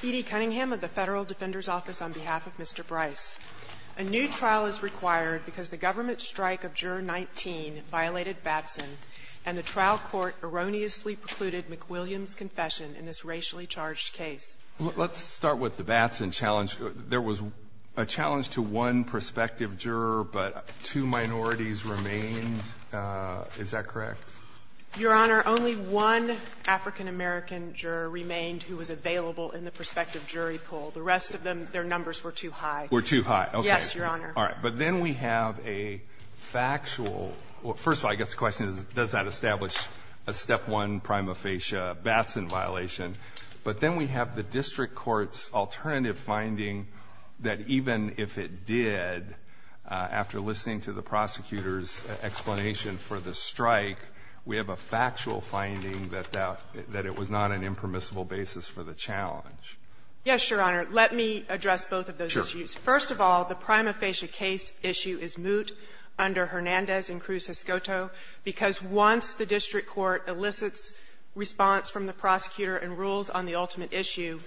E.D. Cunningham of the Federal Defender's Office on behalf of Mr. Brice. A new trial is required because the government strike of Juror 19 violated Batson and the trial court erroneously precluded McWilliams' confession in this racially charged case. Let's start with the Batson challenge. There was a challenge to one prospective juror, but two minorities remained. Is that correct? Your Honor, only one African-American juror remained who was available in the prospective jury pool. The rest of them, their numbers were too high. Were too high. Okay. Yes, Your Honor. All right. But then we have a factual – well, first of all, I guess the question is, does that establish a Step 1 prima facie Batson violation? But then we have the district court's alternative finding that even if it did, after listening to the prosecutor's explanation for the strike, we have a factual finding that that – that it was not an impermissible basis for the challenge. Yes, Your Honor. Let me address both of those issues. First of all, the prima facie case issue is moot under Hernandez and Cruz-Escoto because once the district court elicits response from the prosecutor and rules on the ultimate issue,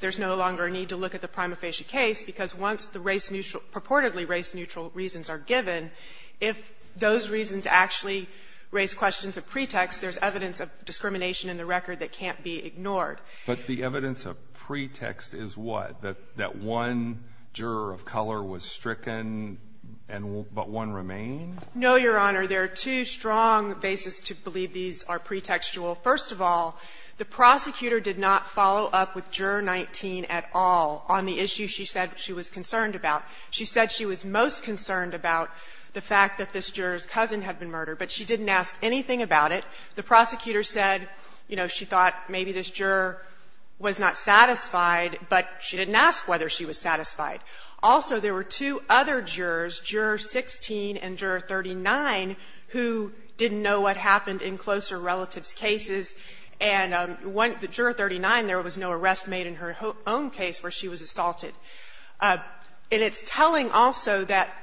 there's no longer a need to look at the prima facie case, because once the race – purportedly race-neutral reasons are given, if those reasons actually raise questions of pretext, there's evidence of discrimination in the record that can't be ignored. But the evidence of pretext is what? That one juror of color was stricken, but one remained? No, Your Honor. There are two strong bases to believe these are pretextual. First of all, the prosecutor did not follow up with Juror 19 at all on the issue she said she was concerned about. She said she was most concerned about the fact that this juror's cousin had been murdered, but she didn't ask anything about it. The prosecutor said, you know, she thought maybe this juror was not satisfied, but she didn't ask whether she was satisfied. Also, there were two other jurors, Juror 16 and Juror 39, who didn't know what happened in closer relatives' cases. And Juror 39, there was no arrest made in her own case where she was assaulted. And it's telling also that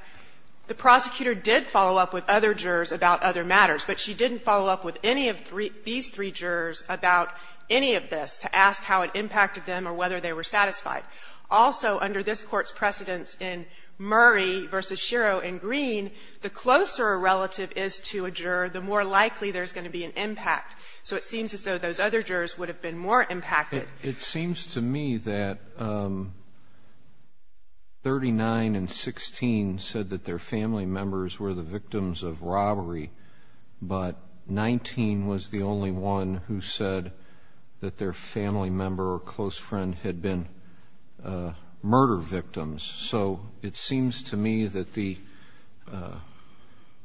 the prosecutor did follow up with other jurors about other matters, but she didn't follow up with any of these three jurors about any of this to ask how it impacted them or whether they were satisfied. Also, under this Court's precedence in Murray v. Shiro and Green, the closer a relative is to a juror, the more likely there's going to be an impact. So it seems as though those other jurors would have been more impacted. It seems to me that 39 and 16 said that their family members were the victims of robbery, but 19 was the only one who said that their family member or close relative were the murder victims. So it seems to me that the –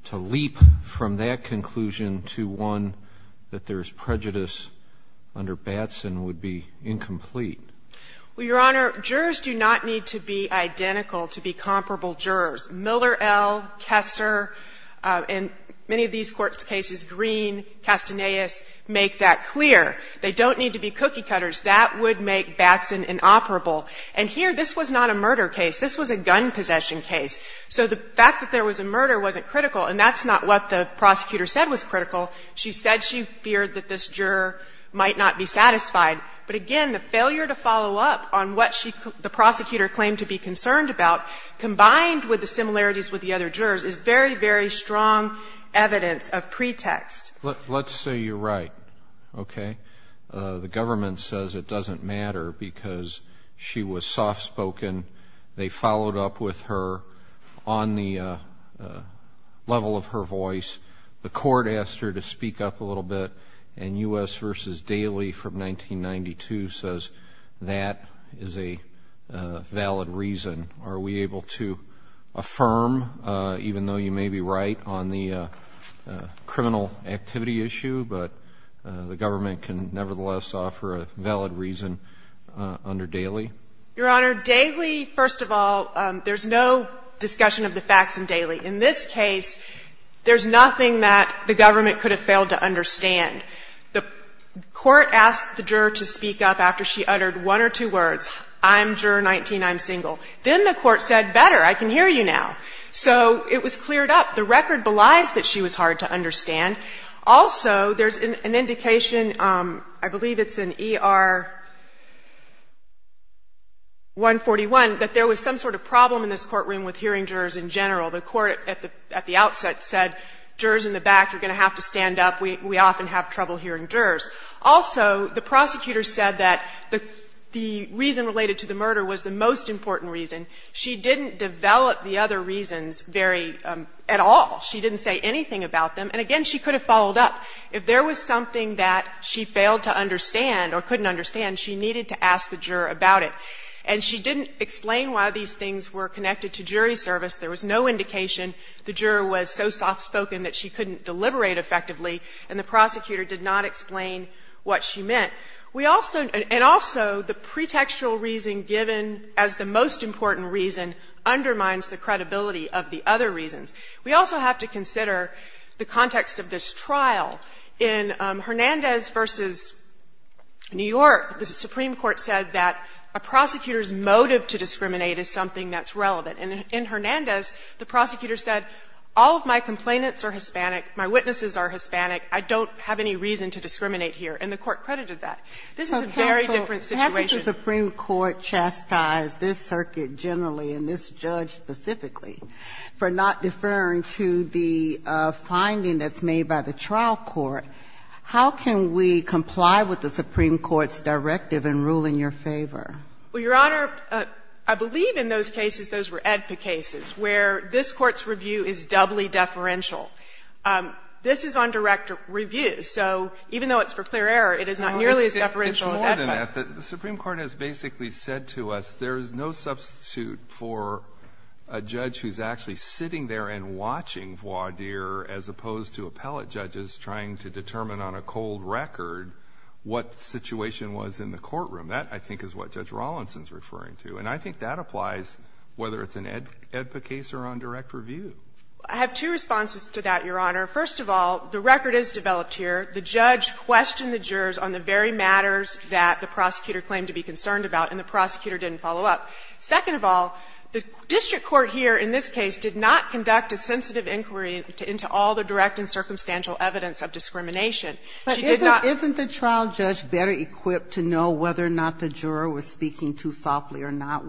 to leap from that conclusion to one that there's prejudice under Batson would be incomplete. Well, Your Honor, jurors do not need to be identical to be comparable jurors. Miller, L., Kessler, and many of these Court's cases, Green, Castaneus, make that clear. They don't need to be cookie-cutters. That would make Batson inoperable. And here, this was not a murder case. This was a gun possession case. So the fact that there was a murder wasn't critical, and that's not what the prosecutor said was critical. She said she feared that this juror might not be satisfied. But again, the failure to follow up on what she – the prosecutor claimed to be concerned about, combined with the similarities with the other jurors, is very, very strong evidence of pretext. Let's say you're right, okay? The government says it doesn't matter because she was soft-spoken. They followed up with her on the level of her voice. The court asked her to speak up a little bit. And U.S. v. Daley from 1992 says that is a valid reason. Are we able to affirm, even though you may be right on the criminal activity issue, but the government can nevertheless offer a valid reason under Daley? Your Honor, Daley, first of all, there's no discussion of the facts in Daley. In this case, there's nothing that the government could have failed to understand. The court asked the juror to speak up after she uttered one or two words, I'm juror 19, I'm single. Then the court said, better, I can hear you now. So it was cleared up. The record belies that she was hard to understand. Also, there's an indication, I believe it's in ER 141, that there was some sort of problem in this courtroom with hearing jurors in general. The court at the outset said, jurors in the back, you're going to have to stand up. We often have trouble hearing jurors. Also, the prosecutor said that the reason related to the murder was the most important reason. She didn't develop the other reasons very at all. She didn't say anything about them. And again, she could have followed up. If there was something that she failed to understand or couldn't understand, she needed to ask the juror about it. And she didn't explain why these things were connected to jury service. There was no indication. The juror was so soft-spoken that she couldn't deliberate effectively, and the prosecutor did not explain what she meant. We also and also the pretextual reason given as the most important reason undermines the credibility of the other reasons. We also have to consider the context of this trial. In Hernandez v. New York, the Supreme Court said that a prosecutor's motive to discriminate is something that's relevant. And in Hernandez, the prosecutor said, all of my complainants are Hispanic, my witnesses are Hispanic, I don't have any reason to discriminate here, and the court credited This is a very different situation. Ginsburg-Campbell, this Circuit generally and this judge specifically for not deferring to the finding that's made by the trial court, how can we comply with the Supreme Court's directive in ruling your favor? Well, Your Honor, I believe in those cases, those were AEDPA cases, where this Court's review is doubly deferential. This is on direct review. So even though it's for clear error, it is not nearly as deferential as AEDPA. It's more than that. The Supreme Court has basically said to us there is no substitute for a judge who's actually sitting there and watching voir dire as opposed to appellate judges trying to determine on a cold record what situation was in the courtroom. That, I think, is what Judge Rawlinson is referring to. And I think that applies whether it's an AEDPA case or on direct review. I have two responses to that, Your Honor. First of all, the record is developed here. The judge questioned the jurors on the very matters that the prosecutor claimed to be concerned about, and the prosecutor didn't follow up. Second of all, the district court here in this case did not conduct a sensitive inquiry into all the direct and circumstantial evidence of discrimination. She did not ---- But isn't the trial judge better equipped to know whether or not the juror was speaking too softly or not?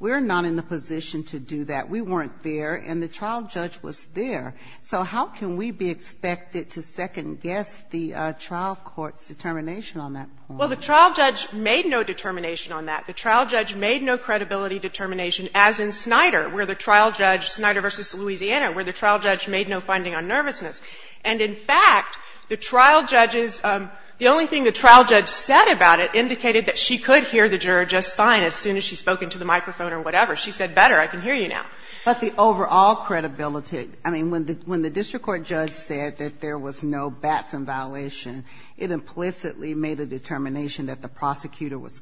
We're not in the position to do that. We weren't there, and the trial judge was there. So how can we be expected to second-guess the trial court's determination on that point? Well, the trial judge made no determination on that. The trial judge made no credibility determination, as in Snyder, where the trial judge, Snyder v. Louisiana, where the trial judge made no finding on nervousness. And in fact, the trial judge's ---- the only thing the trial judge said about it indicated that she could hear the juror just fine as soon as she spoke into the microphone or whatever. She said, better, I can hear you now. But the overall credibility ---- I mean, when the district court judge said that there was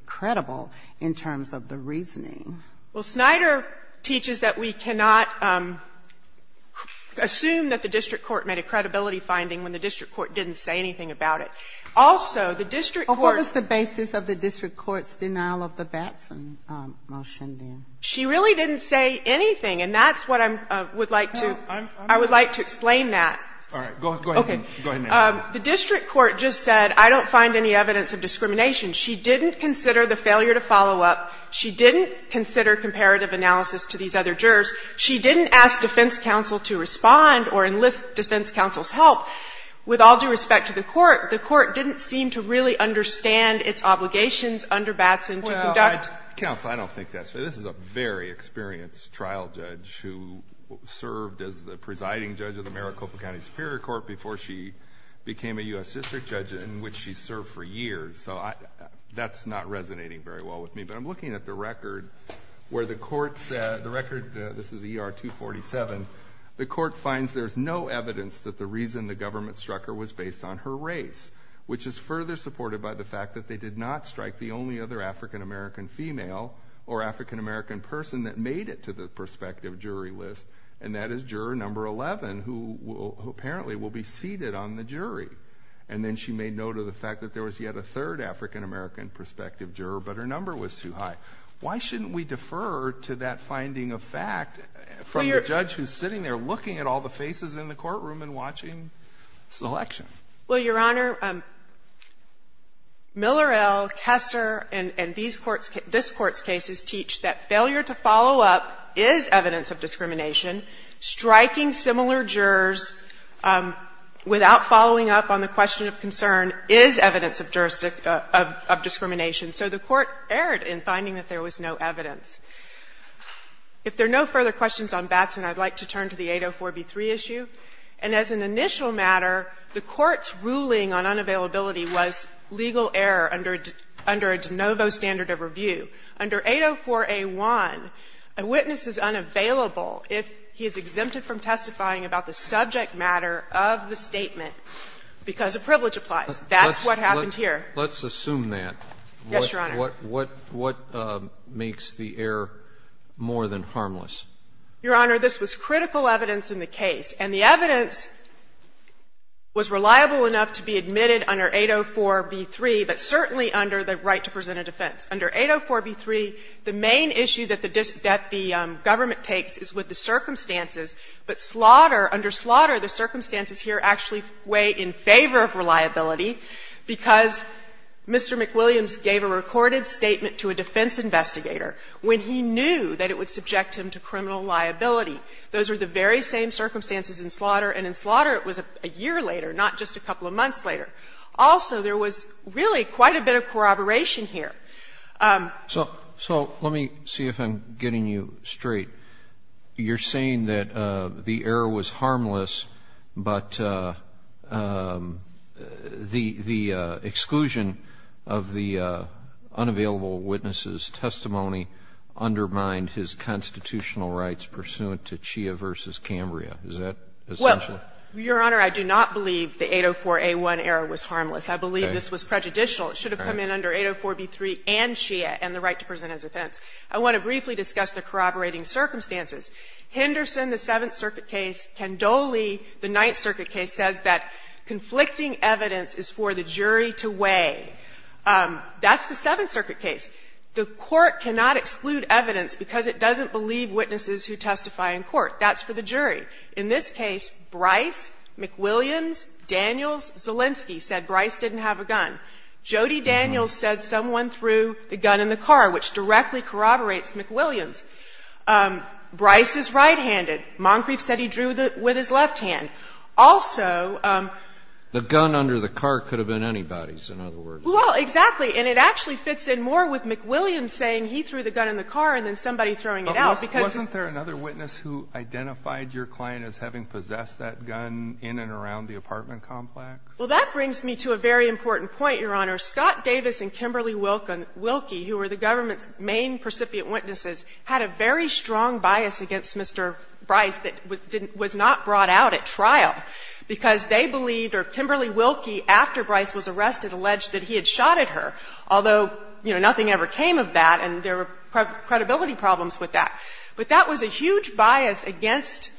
credible in terms of the reasoning ---- Well, Snyder teaches that we cannot assume that the district court made a credibility finding when the district court didn't say anything about it. Also, the district court ---- Well, what was the basis of the district court's denial of the Batson motion then? She really didn't say anything, and that's what I'm ---- would like to ---- I would like to explain that. All right. Go ahead. Go ahead, ma'am. The district court just said, I don't find any evidence of discrimination. She didn't consider the failure to follow up. She didn't consider comparative analysis to these other jurors. She didn't ask defense counsel to respond or enlist defense counsel's help. With all due respect to the Court, the Court didn't seem to really understand its obligations under Batson to conduct ---- Well, counsel, I don't think that's ---- this is a very experienced trial judge who served as the presiding judge of the Maricopa County Superior Court before she became a U.S. district judge, in which she served for years. That's not resonating very well with me. But I'm looking at the record where the Court said, the record, this is ER 247, the Court finds there's no evidence that the reason the government struck her was based on her race, which is further supported by the fact that they did not strike the only other African-American female or African-American person that made it to the prospective jury list. And that is juror number 11, who apparently will be seated on the jury. And then she made note of the fact that there was yet a third African-American prospective juror, but her number was too high. Why shouldn't we defer to that finding of fact from the judge who's sitting there looking at all the faces in the courtroom and watching selection? Well, Your Honor, Miller, L., Kessler, and these courts ---- this Court's cases teach that failure to follow up is evidence of discrimination. Striking similar jurors without following up on the question of concern is evidence of jurisdiction of discrimination. So the Court erred in finding that there was no evidence. If there are no further questions on Batson, I'd like to turn to the 804b3 issue. And as an initial matter, the Court's ruling on unavailability was legal error under a de novo standard of review. Under 804a1, a witness is unavailable if he is exempted from testifying about the subject matter of the statement because a privilege applies. That's what happened here. Let's assume that. Yes, Your Honor. What makes the error more than harmless? Your Honor, this was critical evidence in the case. And the evidence was reliable enough to be admitted under 804b3, but certainly under the right to present a defense. Under 804b3, the main issue that the government takes is with the circumstances. But slaughter, under slaughter, the circumstances here actually weigh in favor of reliability because Mr. McWilliams gave a recorded statement to a defense investigator when he knew that it would subject him to criminal liability. Those were the very same circumstances in slaughter, and in slaughter it was a year later, not just a couple of months later. Also, there was really quite a bit of corroboration here. So let me see if I'm getting you straight. You're saying that the error was harmless, but the exclusion of the unavailable witnesses' testimony undermined his constitutional rights pursuant to Chia v. Cambria. Is that essential? Well, Your Honor, I do not believe the 804a1 error was harmless. I believe this was prejudicial. It should have come in under 804b3 and Chia and the right to present as a defense. I want to briefly discuss the corroborating circumstances. Henderson, the Seventh Circuit case, Candoli, the Ninth Circuit case, says that conflicting evidence is for the jury to weigh. That's the Seventh Circuit case. The Court cannot exclude evidence because it doesn't believe witnesses who testify in court. That's for the jury. In this case, Bryce, McWilliams, Daniels, Zelinsky said Bryce didn't have a gun. Jody Daniels said someone threw the gun in the car, which directly corroborates McWilliams. Bryce is right-handed. Moncrief said he drew with his left hand. Also the gun under the car could have been anybody's, in other words. Well, exactly. And it actually fits in more with McWilliams saying he threw the gun in the car and then somebody throwing it out because he was throwing it out. Wasn't there another witness who identified your client as having possessed that gun in and around the apartment complex? Well, that brings me to a very important point, Your Honor. Scott Davis and Kimberly Wilkie, who were the government's main precipitant witnesses, had a very strong bias against Mr. Bryce that was not brought out at trial, because they believed, or Kimberly Wilkie, after Bryce was arrested, alleged that he had shot at her, although, you know, nothing ever came of that and there were credibility problems with that. But that was a huge bias against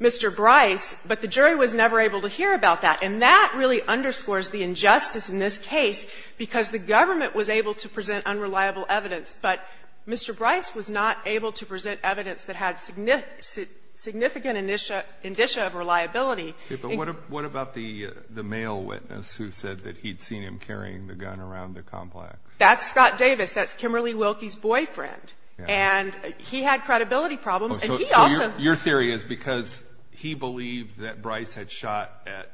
Mr. Bryce, but the jury was never able to hear about that. And that really underscores the injustice in this case, because the government was able to present unreliable evidence, but Mr. Bryce was not able to present evidence that had significant indicia of reliability. Okay. But what about the male witness who said that he'd seen him carrying the gun around the complex? That's Scott Davis. That's Kimberly Wilkie's boyfriend. And he had credibility problems, and he also So your theory is because he believed that Bryce had shot at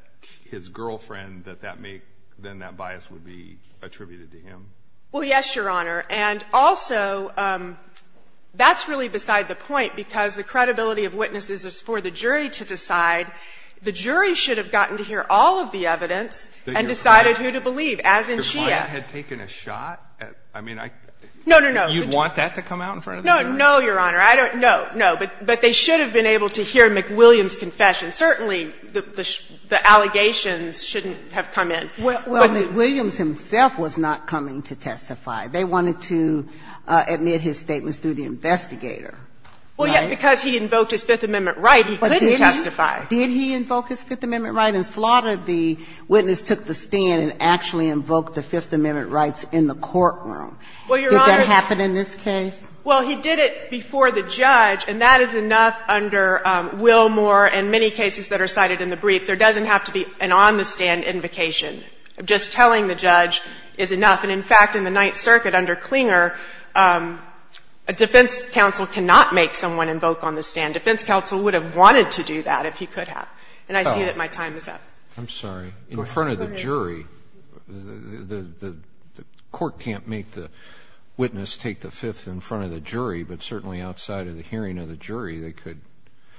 his girlfriend, that that may, then that bias would be attributed to him? Well, yes, Your Honor. And also, that's really beside the point, because the credibility of witnesses is for the jury to decide. The jury should have gotten to hear all of the evidence and decided who to believe, as in she had. If your client had taken a shot at, I mean, I No, no, no. You'd want that to come out in front of the jury? No, no, Your Honor. I don't know. No. But they should have been able to hear McWilliams' confession. Certainly, the allegations shouldn't have come in. Well, McWilliams himself was not coming to testify. They wanted to admit his statements through the investigator. Well, yes, because he invoked his Fifth Amendment right, he couldn't testify. Did he invoke his Fifth Amendment right and slaughter the witness took the stand and actually invoked the Fifth Amendment rights in the courtroom? Did that happen in this case? Well, he did it before the judge, and that is enough under Wilmore and many cases that are cited in the brief. There doesn't have to be an on-the-stand invocation. Just telling the judge is enough. And in fact, in the Ninth Circuit under Clinger, a defense counsel cannot make someone invoke on the stand. A defense counsel would have wanted to do that if he could have. And I see that my time is up. I'm sorry. I don't know if it's outside of the front of the jury, but certainly outside of the hearing of the jury, they could.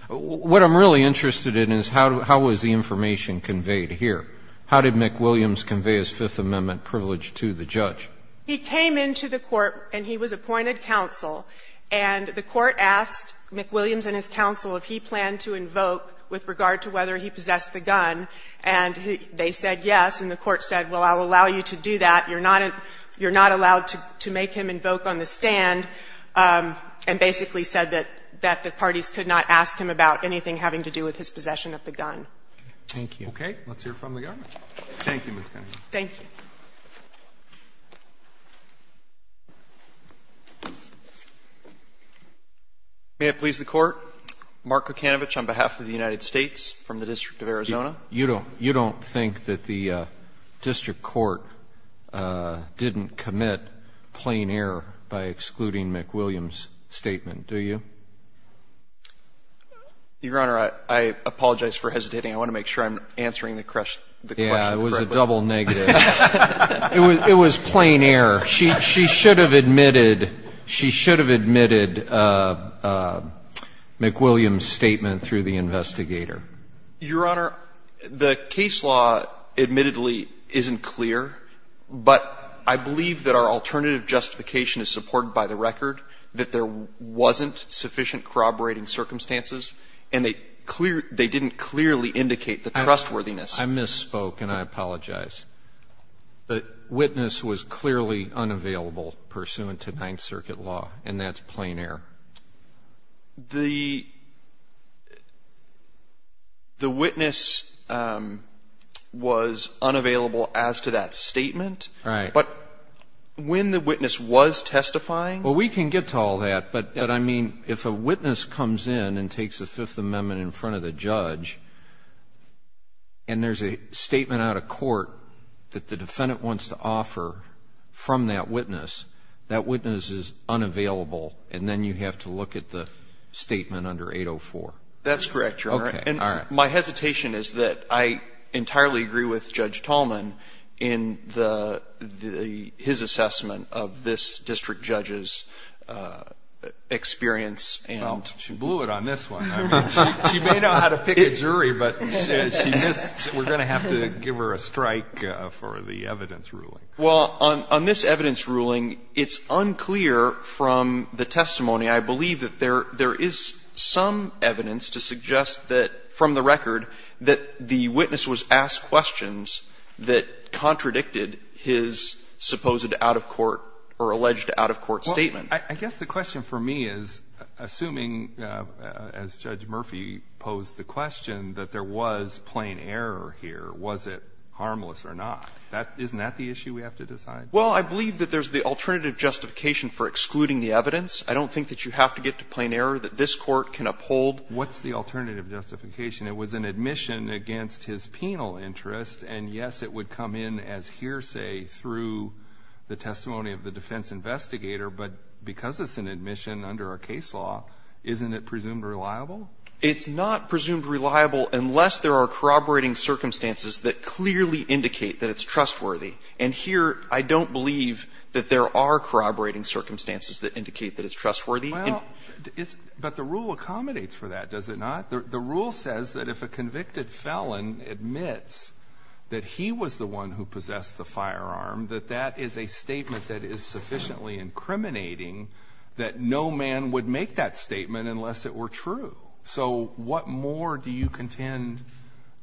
What I'm really interested in is how was the information conveyed here? How did McWilliams convey his Fifth Amendment privilege to the judge? He came into the court and he was appointed counsel, and the court asked McWilliams and his counsel if he planned to invoke with regard to whether he possessed the gun, and they said yes, and the court said, well, I'll allow you to do that. You're not allowed to make him invoke on the stand, and basically said that the parties could not ask him about anything having to do with his possession of the gun. Roberts. Thank you. Roberts. Okay. Let's hear it from the government. Thank you, Ms. Cunningham. Thank you. May it please the Court, Mark Kucinowicz on behalf of the United States from the District of Arizona. You don't think that the district court didn't commit plain error by excluding McWilliams' statement, do you? Your Honor, I apologize for hesitating. I want to make sure I'm answering the question correctly. Yeah, it was a double negative. It was plain error. She should have admitted McWilliams' statement through the investigator. Your Honor, the case law admittedly isn't clear, but I believe that our alternative justification is supported by the record that there wasn't sufficient corroborating circumstances, and they didn't clearly indicate the trustworthiness. I misspoke, and I apologize. The witness was clearly unavailable pursuant to Ninth Circuit law, and that's plain error. The witness was unavailable as to that statement? Right. But when the witness was testifying? Well, we can get to all that, but I mean, if a witness comes in and takes a Fifth Amendment in front of the judge, and there's a statement out of court that the defendant wants to offer from that witness, that witness is unavailable, and then you have to look at the statement under 804. That's correct, Your Honor. Okay, all right. My hesitation is that I entirely agree with Judge Tallman in his assessment of this district judge's experience. Well, she blew it on this one. I mean, she may know how to pick a jury, but we're going to have to give her a strike for the evidence ruling. Well, on this evidence ruling, it's unclear from the testimony, I believe, that there is some evidence to suggest that, from the record, that the witness was asked questions that contradicted his supposed out-of-court or alleged out-of-court statement. I guess the question for me is, assuming, as Judge Murphy posed the question, that there was plain error here, was it harmless or not? Isn't that the issue we have to decide? Well, I believe that there's the alternative justification for excluding the evidence. I don't think that you have to get to plain error that this Court can uphold. What's the alternative justification? It was an admission against his penal interest, and, yes, it would come in as hearsay through the testimony of the defense investigator, but because it's an admission under our case law, isn't it presumed reliable? It's not presumed reliable unless there are corroborating circumstances that clearly indicate that it's trustworthy. And here, I don't believe that there are corroborating circumstances that indicate that it's trustworthy. Well, it's – but the rule accommodates for that, does it not? The rule says that if a convicted felon admits that he was the one who possessed the firearm, that that is a statement that is sufficiently incriminating that no man would make that statement unless it were true. So what more do you contend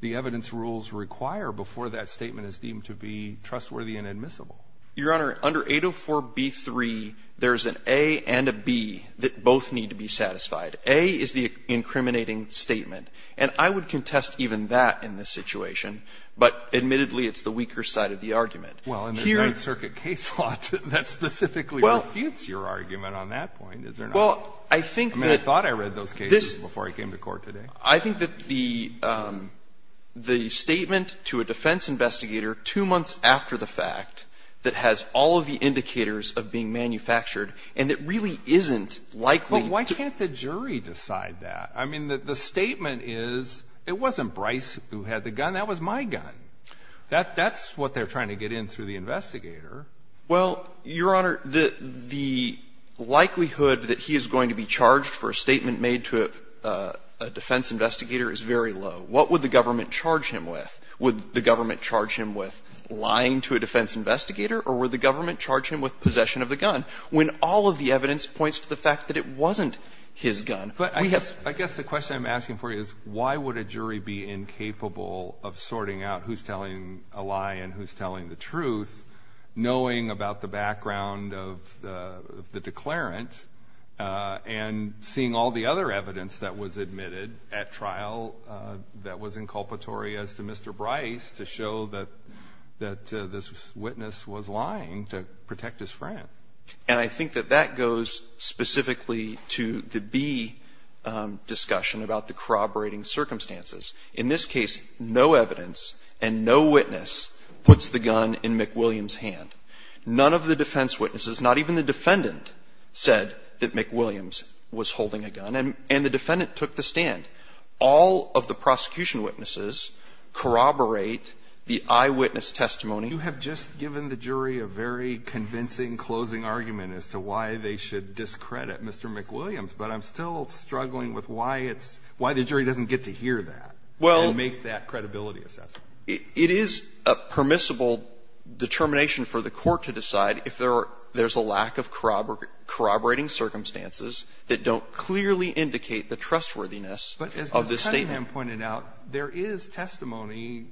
the evidence rules require before that statement is deemed to be trustworthy and admissible? Your Honor, under 804b3, there's an A and a B that both need to be satisfied. A is the incriminating statement. And I would contest even that in this situation, but admittedly, it's the weaker side of the argument. Well, in the Ninth Circuit case law, that specifically refutes your argument on that point, is there not? Well, I think that this – I think that the statement to a defense investigator two months after the fact that has all of the indicators of being manufactured, and it really isn't likely to – Well, why can't the jury decide that? I mean, the statement is, it wasn't Bryce who had the gun. That was my gun. That's what they're trying to get in through the investigator. Well, Your Honor, the likelihood that he is going to be charged for a statement made to a defense investigator is very low. What would the government charge him with? Would the government charge him with lying to a defense investigator, or would the government charge him with possession of the gun? When all of the evidence points to the fact that it wasn't his gun. But I guess the question I'm asking for you is, why would a jury be incapable of sorting out who's telling a lie and who's telling the truth, knowing about the background of the declarant, and seeing all the other evidence that was admitted at trial that was inculpatory as to Mr. Bryce to show that this witness was lying to protect his friend? And I think that that goes specifically to the B discussion about the corroborating circumstances. In this case, no evidence and no witness puts the gun in McWilliams' hand. None of the defense witnesses, not even the defendant, said that McWilliams was holding a gun, and the defendant took the stand. All of the prosecution witnesses corroborate the eyewitness testimony. You have just given the jury a very convincing closing argument as to why they should discredit Mr. McWilliams, but I'm still struggling with why it's why the jury doesn't get to hear that and make that credibility assessment. It is a permissible determination for the court to decide if there's a lack of corroborating circumstances that don't clearly indicate the trustworthiness of this statement. But as Mr. Cunningham pointed out, there is testimony,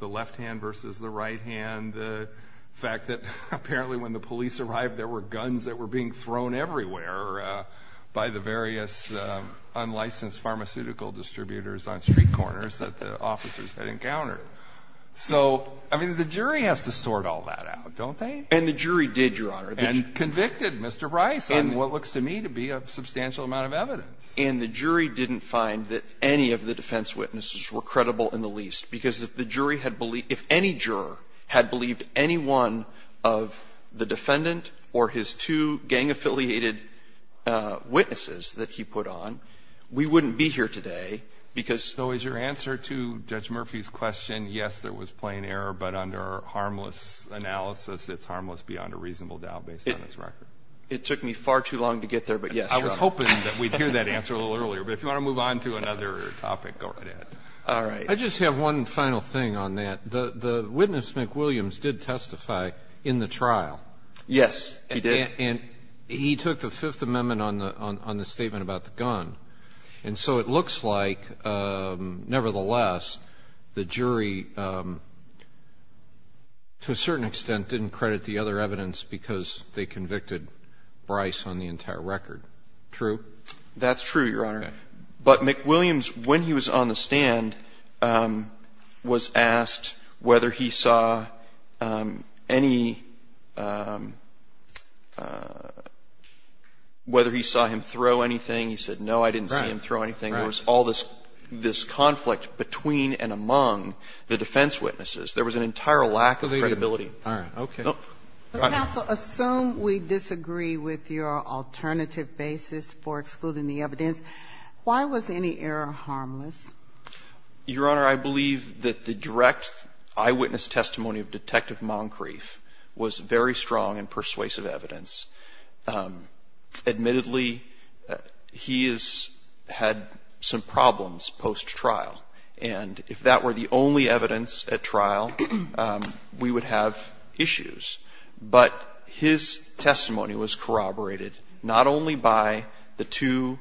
the left hand versus the right hand, the fact that apparently when the police arrived, there were guns that were being thrown everywhere by the various unlicensed pharmaceutical distributors on street corners that the officers had encountered. So, I mean, the jury has to sort all that out, don't they? And the jury did, Your Honor. And convicted Mr. Rice on what looks to me to be a substantial amount of evidence. And the jury didn't find that any of the defense witnesses were credible in the least, because if the jury had believed any juror had believed any one of the defendant or his two gang-affiliated witnesses that he put on, we wouldn't be here today because. So is your answer to Judge Murphy's question, yes, there was plain error, but under harmless analysis, it's harmless beyond a reasonable doubt based on this record? It took me far too long to get there, but yes, Your Honor. I was hoping that we'd hear that answer a little earlier. But if you want to move on to another topic, go right ahead. All right. I just have one final thing on that. The witness, McWilliams, did testify in the trial. Yes, he did. And he took the Fifth Amendment on the statement about the gun. And so it looks like, nevertheless, the jury, to a certain extent, didn't credit the other evidence because they convicted Bryce on the entire record. True? That's true, Your Honor. But McWilliams, when he was on the stand, was asked whether he saw any – whether he saw him throw anything. He said, no, I didn't see him throw anything. There was all this conflict between and among the defense witnesses. There was an entire lack of credibility. All right. Okay. Counsel, assume we disagree with your alternative basis for excluding the evidence. Why was any error harmless? Your Honor, I believe that the direct eyewitness testimony of Detective Moncrief was very strong and persuasive evidence. Admittedly, he has had some problems post-trial. And if that were the only evidence at trial, we would have issues. But his testimony was corroborated not only by the two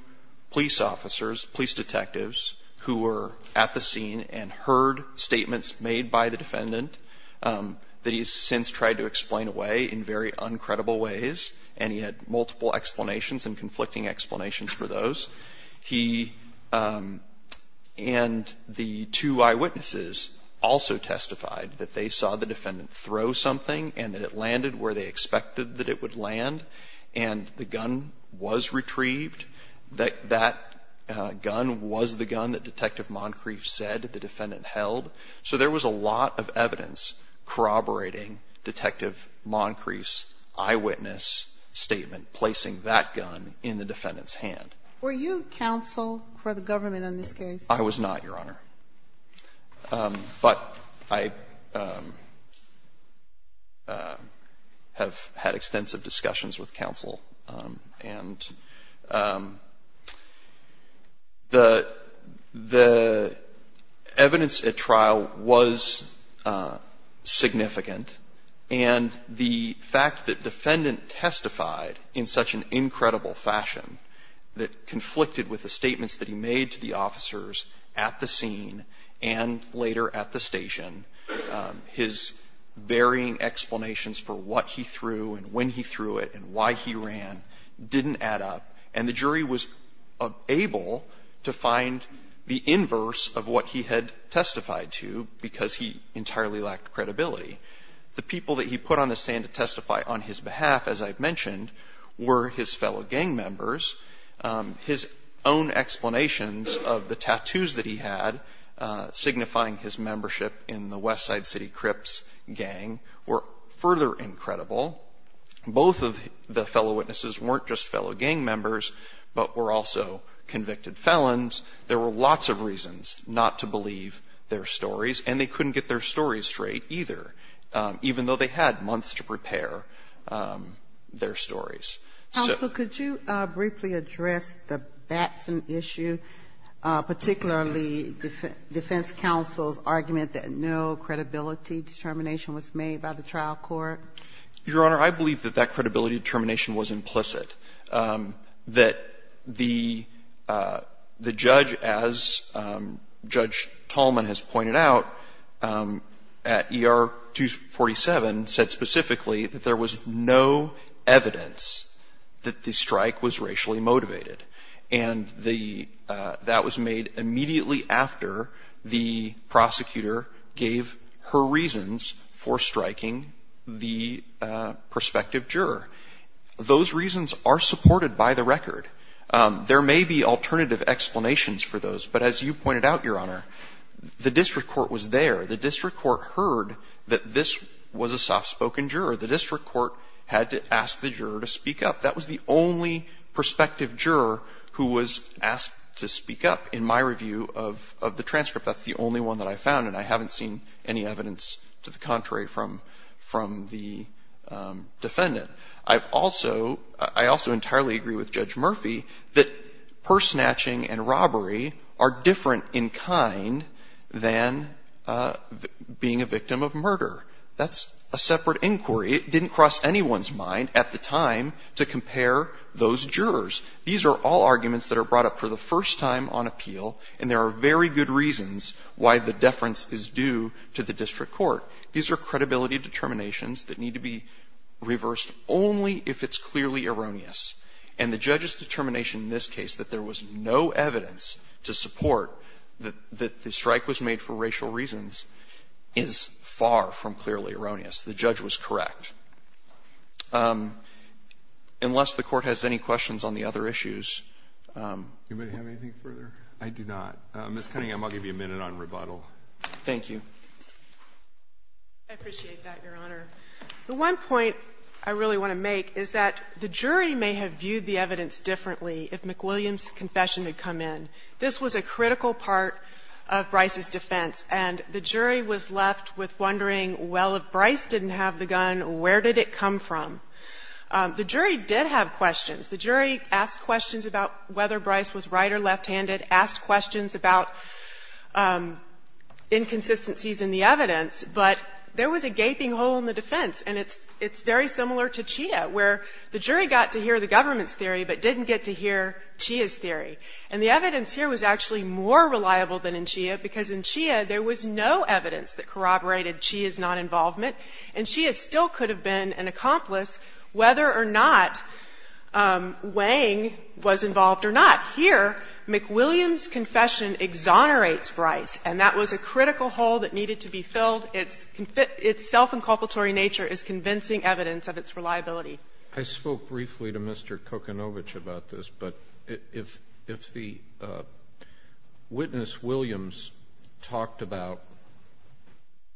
police officers, police detectives, who were at the scene and heard statements made by the defendant that he has since tried to explain away in very uncredible ways. And he had multiple explanations and conflicting explanations for those. He and the two eyewitnesses also testified that they saw the defendant throw something and that it landed where they expected that it would land. And the gun was retrieved. That gun was the gun that Detective Moncrief said the defendant held. So there was a lot of evidence corroborating Detective Moncrief's eyewitness statement, placing that gun in the defendant's hand. Were you counsel for the government in this case? I was not, Your Honor. But I have had extensive discussions with counsel. And the evidence at trial was significant. And the fact that defendant testified in such an incredible fashion that conflicted with the statements that he made to the officers at the scene and later at the station, his varying explanations for what he threw and when he threw it and why he ran didn't add up. And the jury was able to find the inverse of what he had testified to because he entirely lacked credibility. The people that he put on the stand to testify on his behalf, as I've mentioned, were his fellow gang members. His own explanations of the tattoos that he had signifying his membership in the Westside City Crips gang were further incredible. Both of the fellow witnesses weren't just fellow gang members, but were also convicted felons. There were lots of reasons not to believe their stories, and they couldn't get their story straight either, even though they had months to prepare their stories. Counsel, could you briefly address the Batson issue, particularly defense counsel's argument that no credibility determination was made by the trial court? Your Honor, I believe that that credibility determination was implicit. That the judge, as Judge Tallman has pointed out, at ER 247 said specifically that there was no evidence that the strike was racially motivated. And that was made immediately after the prosecutor gave her reasons for striking the prospective juror. Those reasons are supported by the record. There may be alternative explanations for those, but as you pointed out, Your Honor, the district court was there. The district court heard that this was a soft-spoken juror. The district court had to ask the juror to speak up. That was the only prospective juror who was asked to speak up in my review of the transcript. That's the only one that I found, and I haven't seen any evidence to the contrary from the defendant. I've also, I also entirely agree with Judge Murphy that purse snatching and robbery are different in kind than being a victim of murder. That's a separate inquiry. It didn't cross anyone's mind at the time to compare those jurors. These are all arguments that are brought up for the first time on appeal, and there are very good reasons why the deference is due to the district court. These are credibility determinations that need to be reversed only if it's clearly erroneous. And the judge's determination in this case that there was no evidence to support that the strike was made for racial reasons is far from clearly erroneous. The judge was correct. Unless the Court has any questions on the other issues. Do you have anything further? I do not. Ms. Cunningham, I'll give you a minute on rebuttal. Thank you. I appreciate that, Your Honor. The one point I really want to make is that the jury may have viewed the evidence differently if McWilliams' confession had come in. This was a critical part of Bryce's defense, and the jury was left with wondering, well, if Bryce didn't have the gun, where did it come from? The jury did have questions. The jury asked questions about whether Bryce was right or left-handed, asked questions about inconsistencies in the evidence, but there was a gaping hole in the defense. And it's very similar to Chia, where the jury got to hear the government's theory but didn't get to hear Chia's theory. And the evidence here was actually more reliable than in Chia, because in Chia there was no evidence that corroborated Chia's non-involvement, and Chia still could have been an accomplice whether or not Wang was involved or not. Here, McWilliams' confession exonerates Bryce, and that was a critical hole that needed to be filled. Its self-inculpatory nature is convincing evidence of its reliability. I spoke briefly to Mr. Kokanovich about this, but if the witness Williams talked about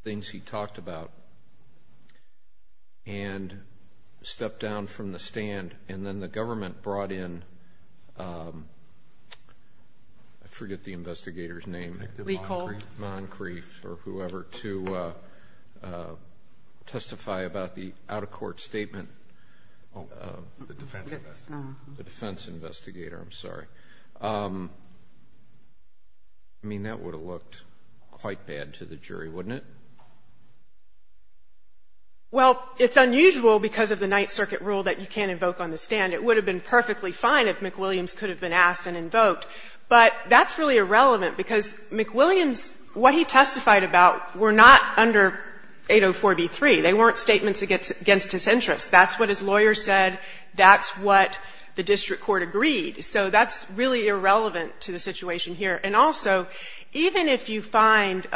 things he talked about and stepped down from the stand, and then the government brought in, I forget the investigator's name, Moncrief, or whoever, to testify about the out-of-court statement, the defense investigator, I'm sorry, I mean that would have looked quite bad to the jury, wouldn't it? Well, it's unusual because of the Ninth Circuit rule that you can't invoke on the stand. It would have been perfectly fine if McWilliams could have been asked and invoked. But that's really irrelevant, because McWilliams, what he testified about were not under 804b3. They weren't statements against his interests. That's what his lawyer said. That's what the district court agreed. So that's really irrelevant to the situation here. And also, even if you find,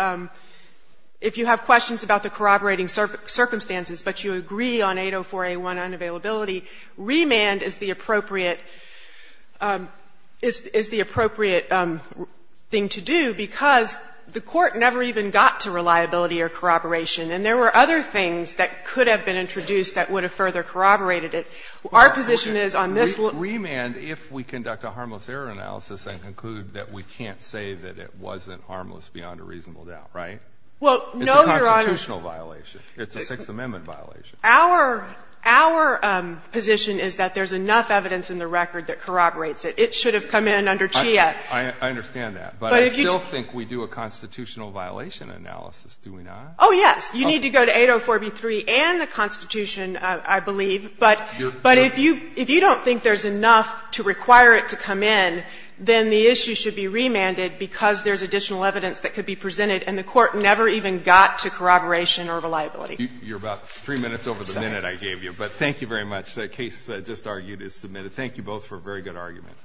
if you have questions about the corroborating circumstances, but you agree on 804a1, unavailability, remand is the appropriate thing to do, because the Court never even got to reliability or corroboration, and there were other things that could have been introduced that would have further corroborated it. Our position is on this lawyer's case, we can't corroborate it. We can't say that it wasn't harmless beyond a reasonable doubt, right? It's a constitutional violation. It's a Sixth Amendment violation. Our position is that there's enough evidence in the record that corroborates it. It should have come in under CHIA. I understand that. But I still think we do a constitutional violation analysis, do we not? Oh, yes. You need to go to 804b3 and the Constitution, I believe. But if you don't think there's enough to require it to come in, then the issue should be remanded because there's additional evidence that could be presented and the Court never even got to corroboration or reliability. You're about 3 minutes over the minute I gave you, but thank you very much. The case just argued is submitted. Thank you both for a very good argument.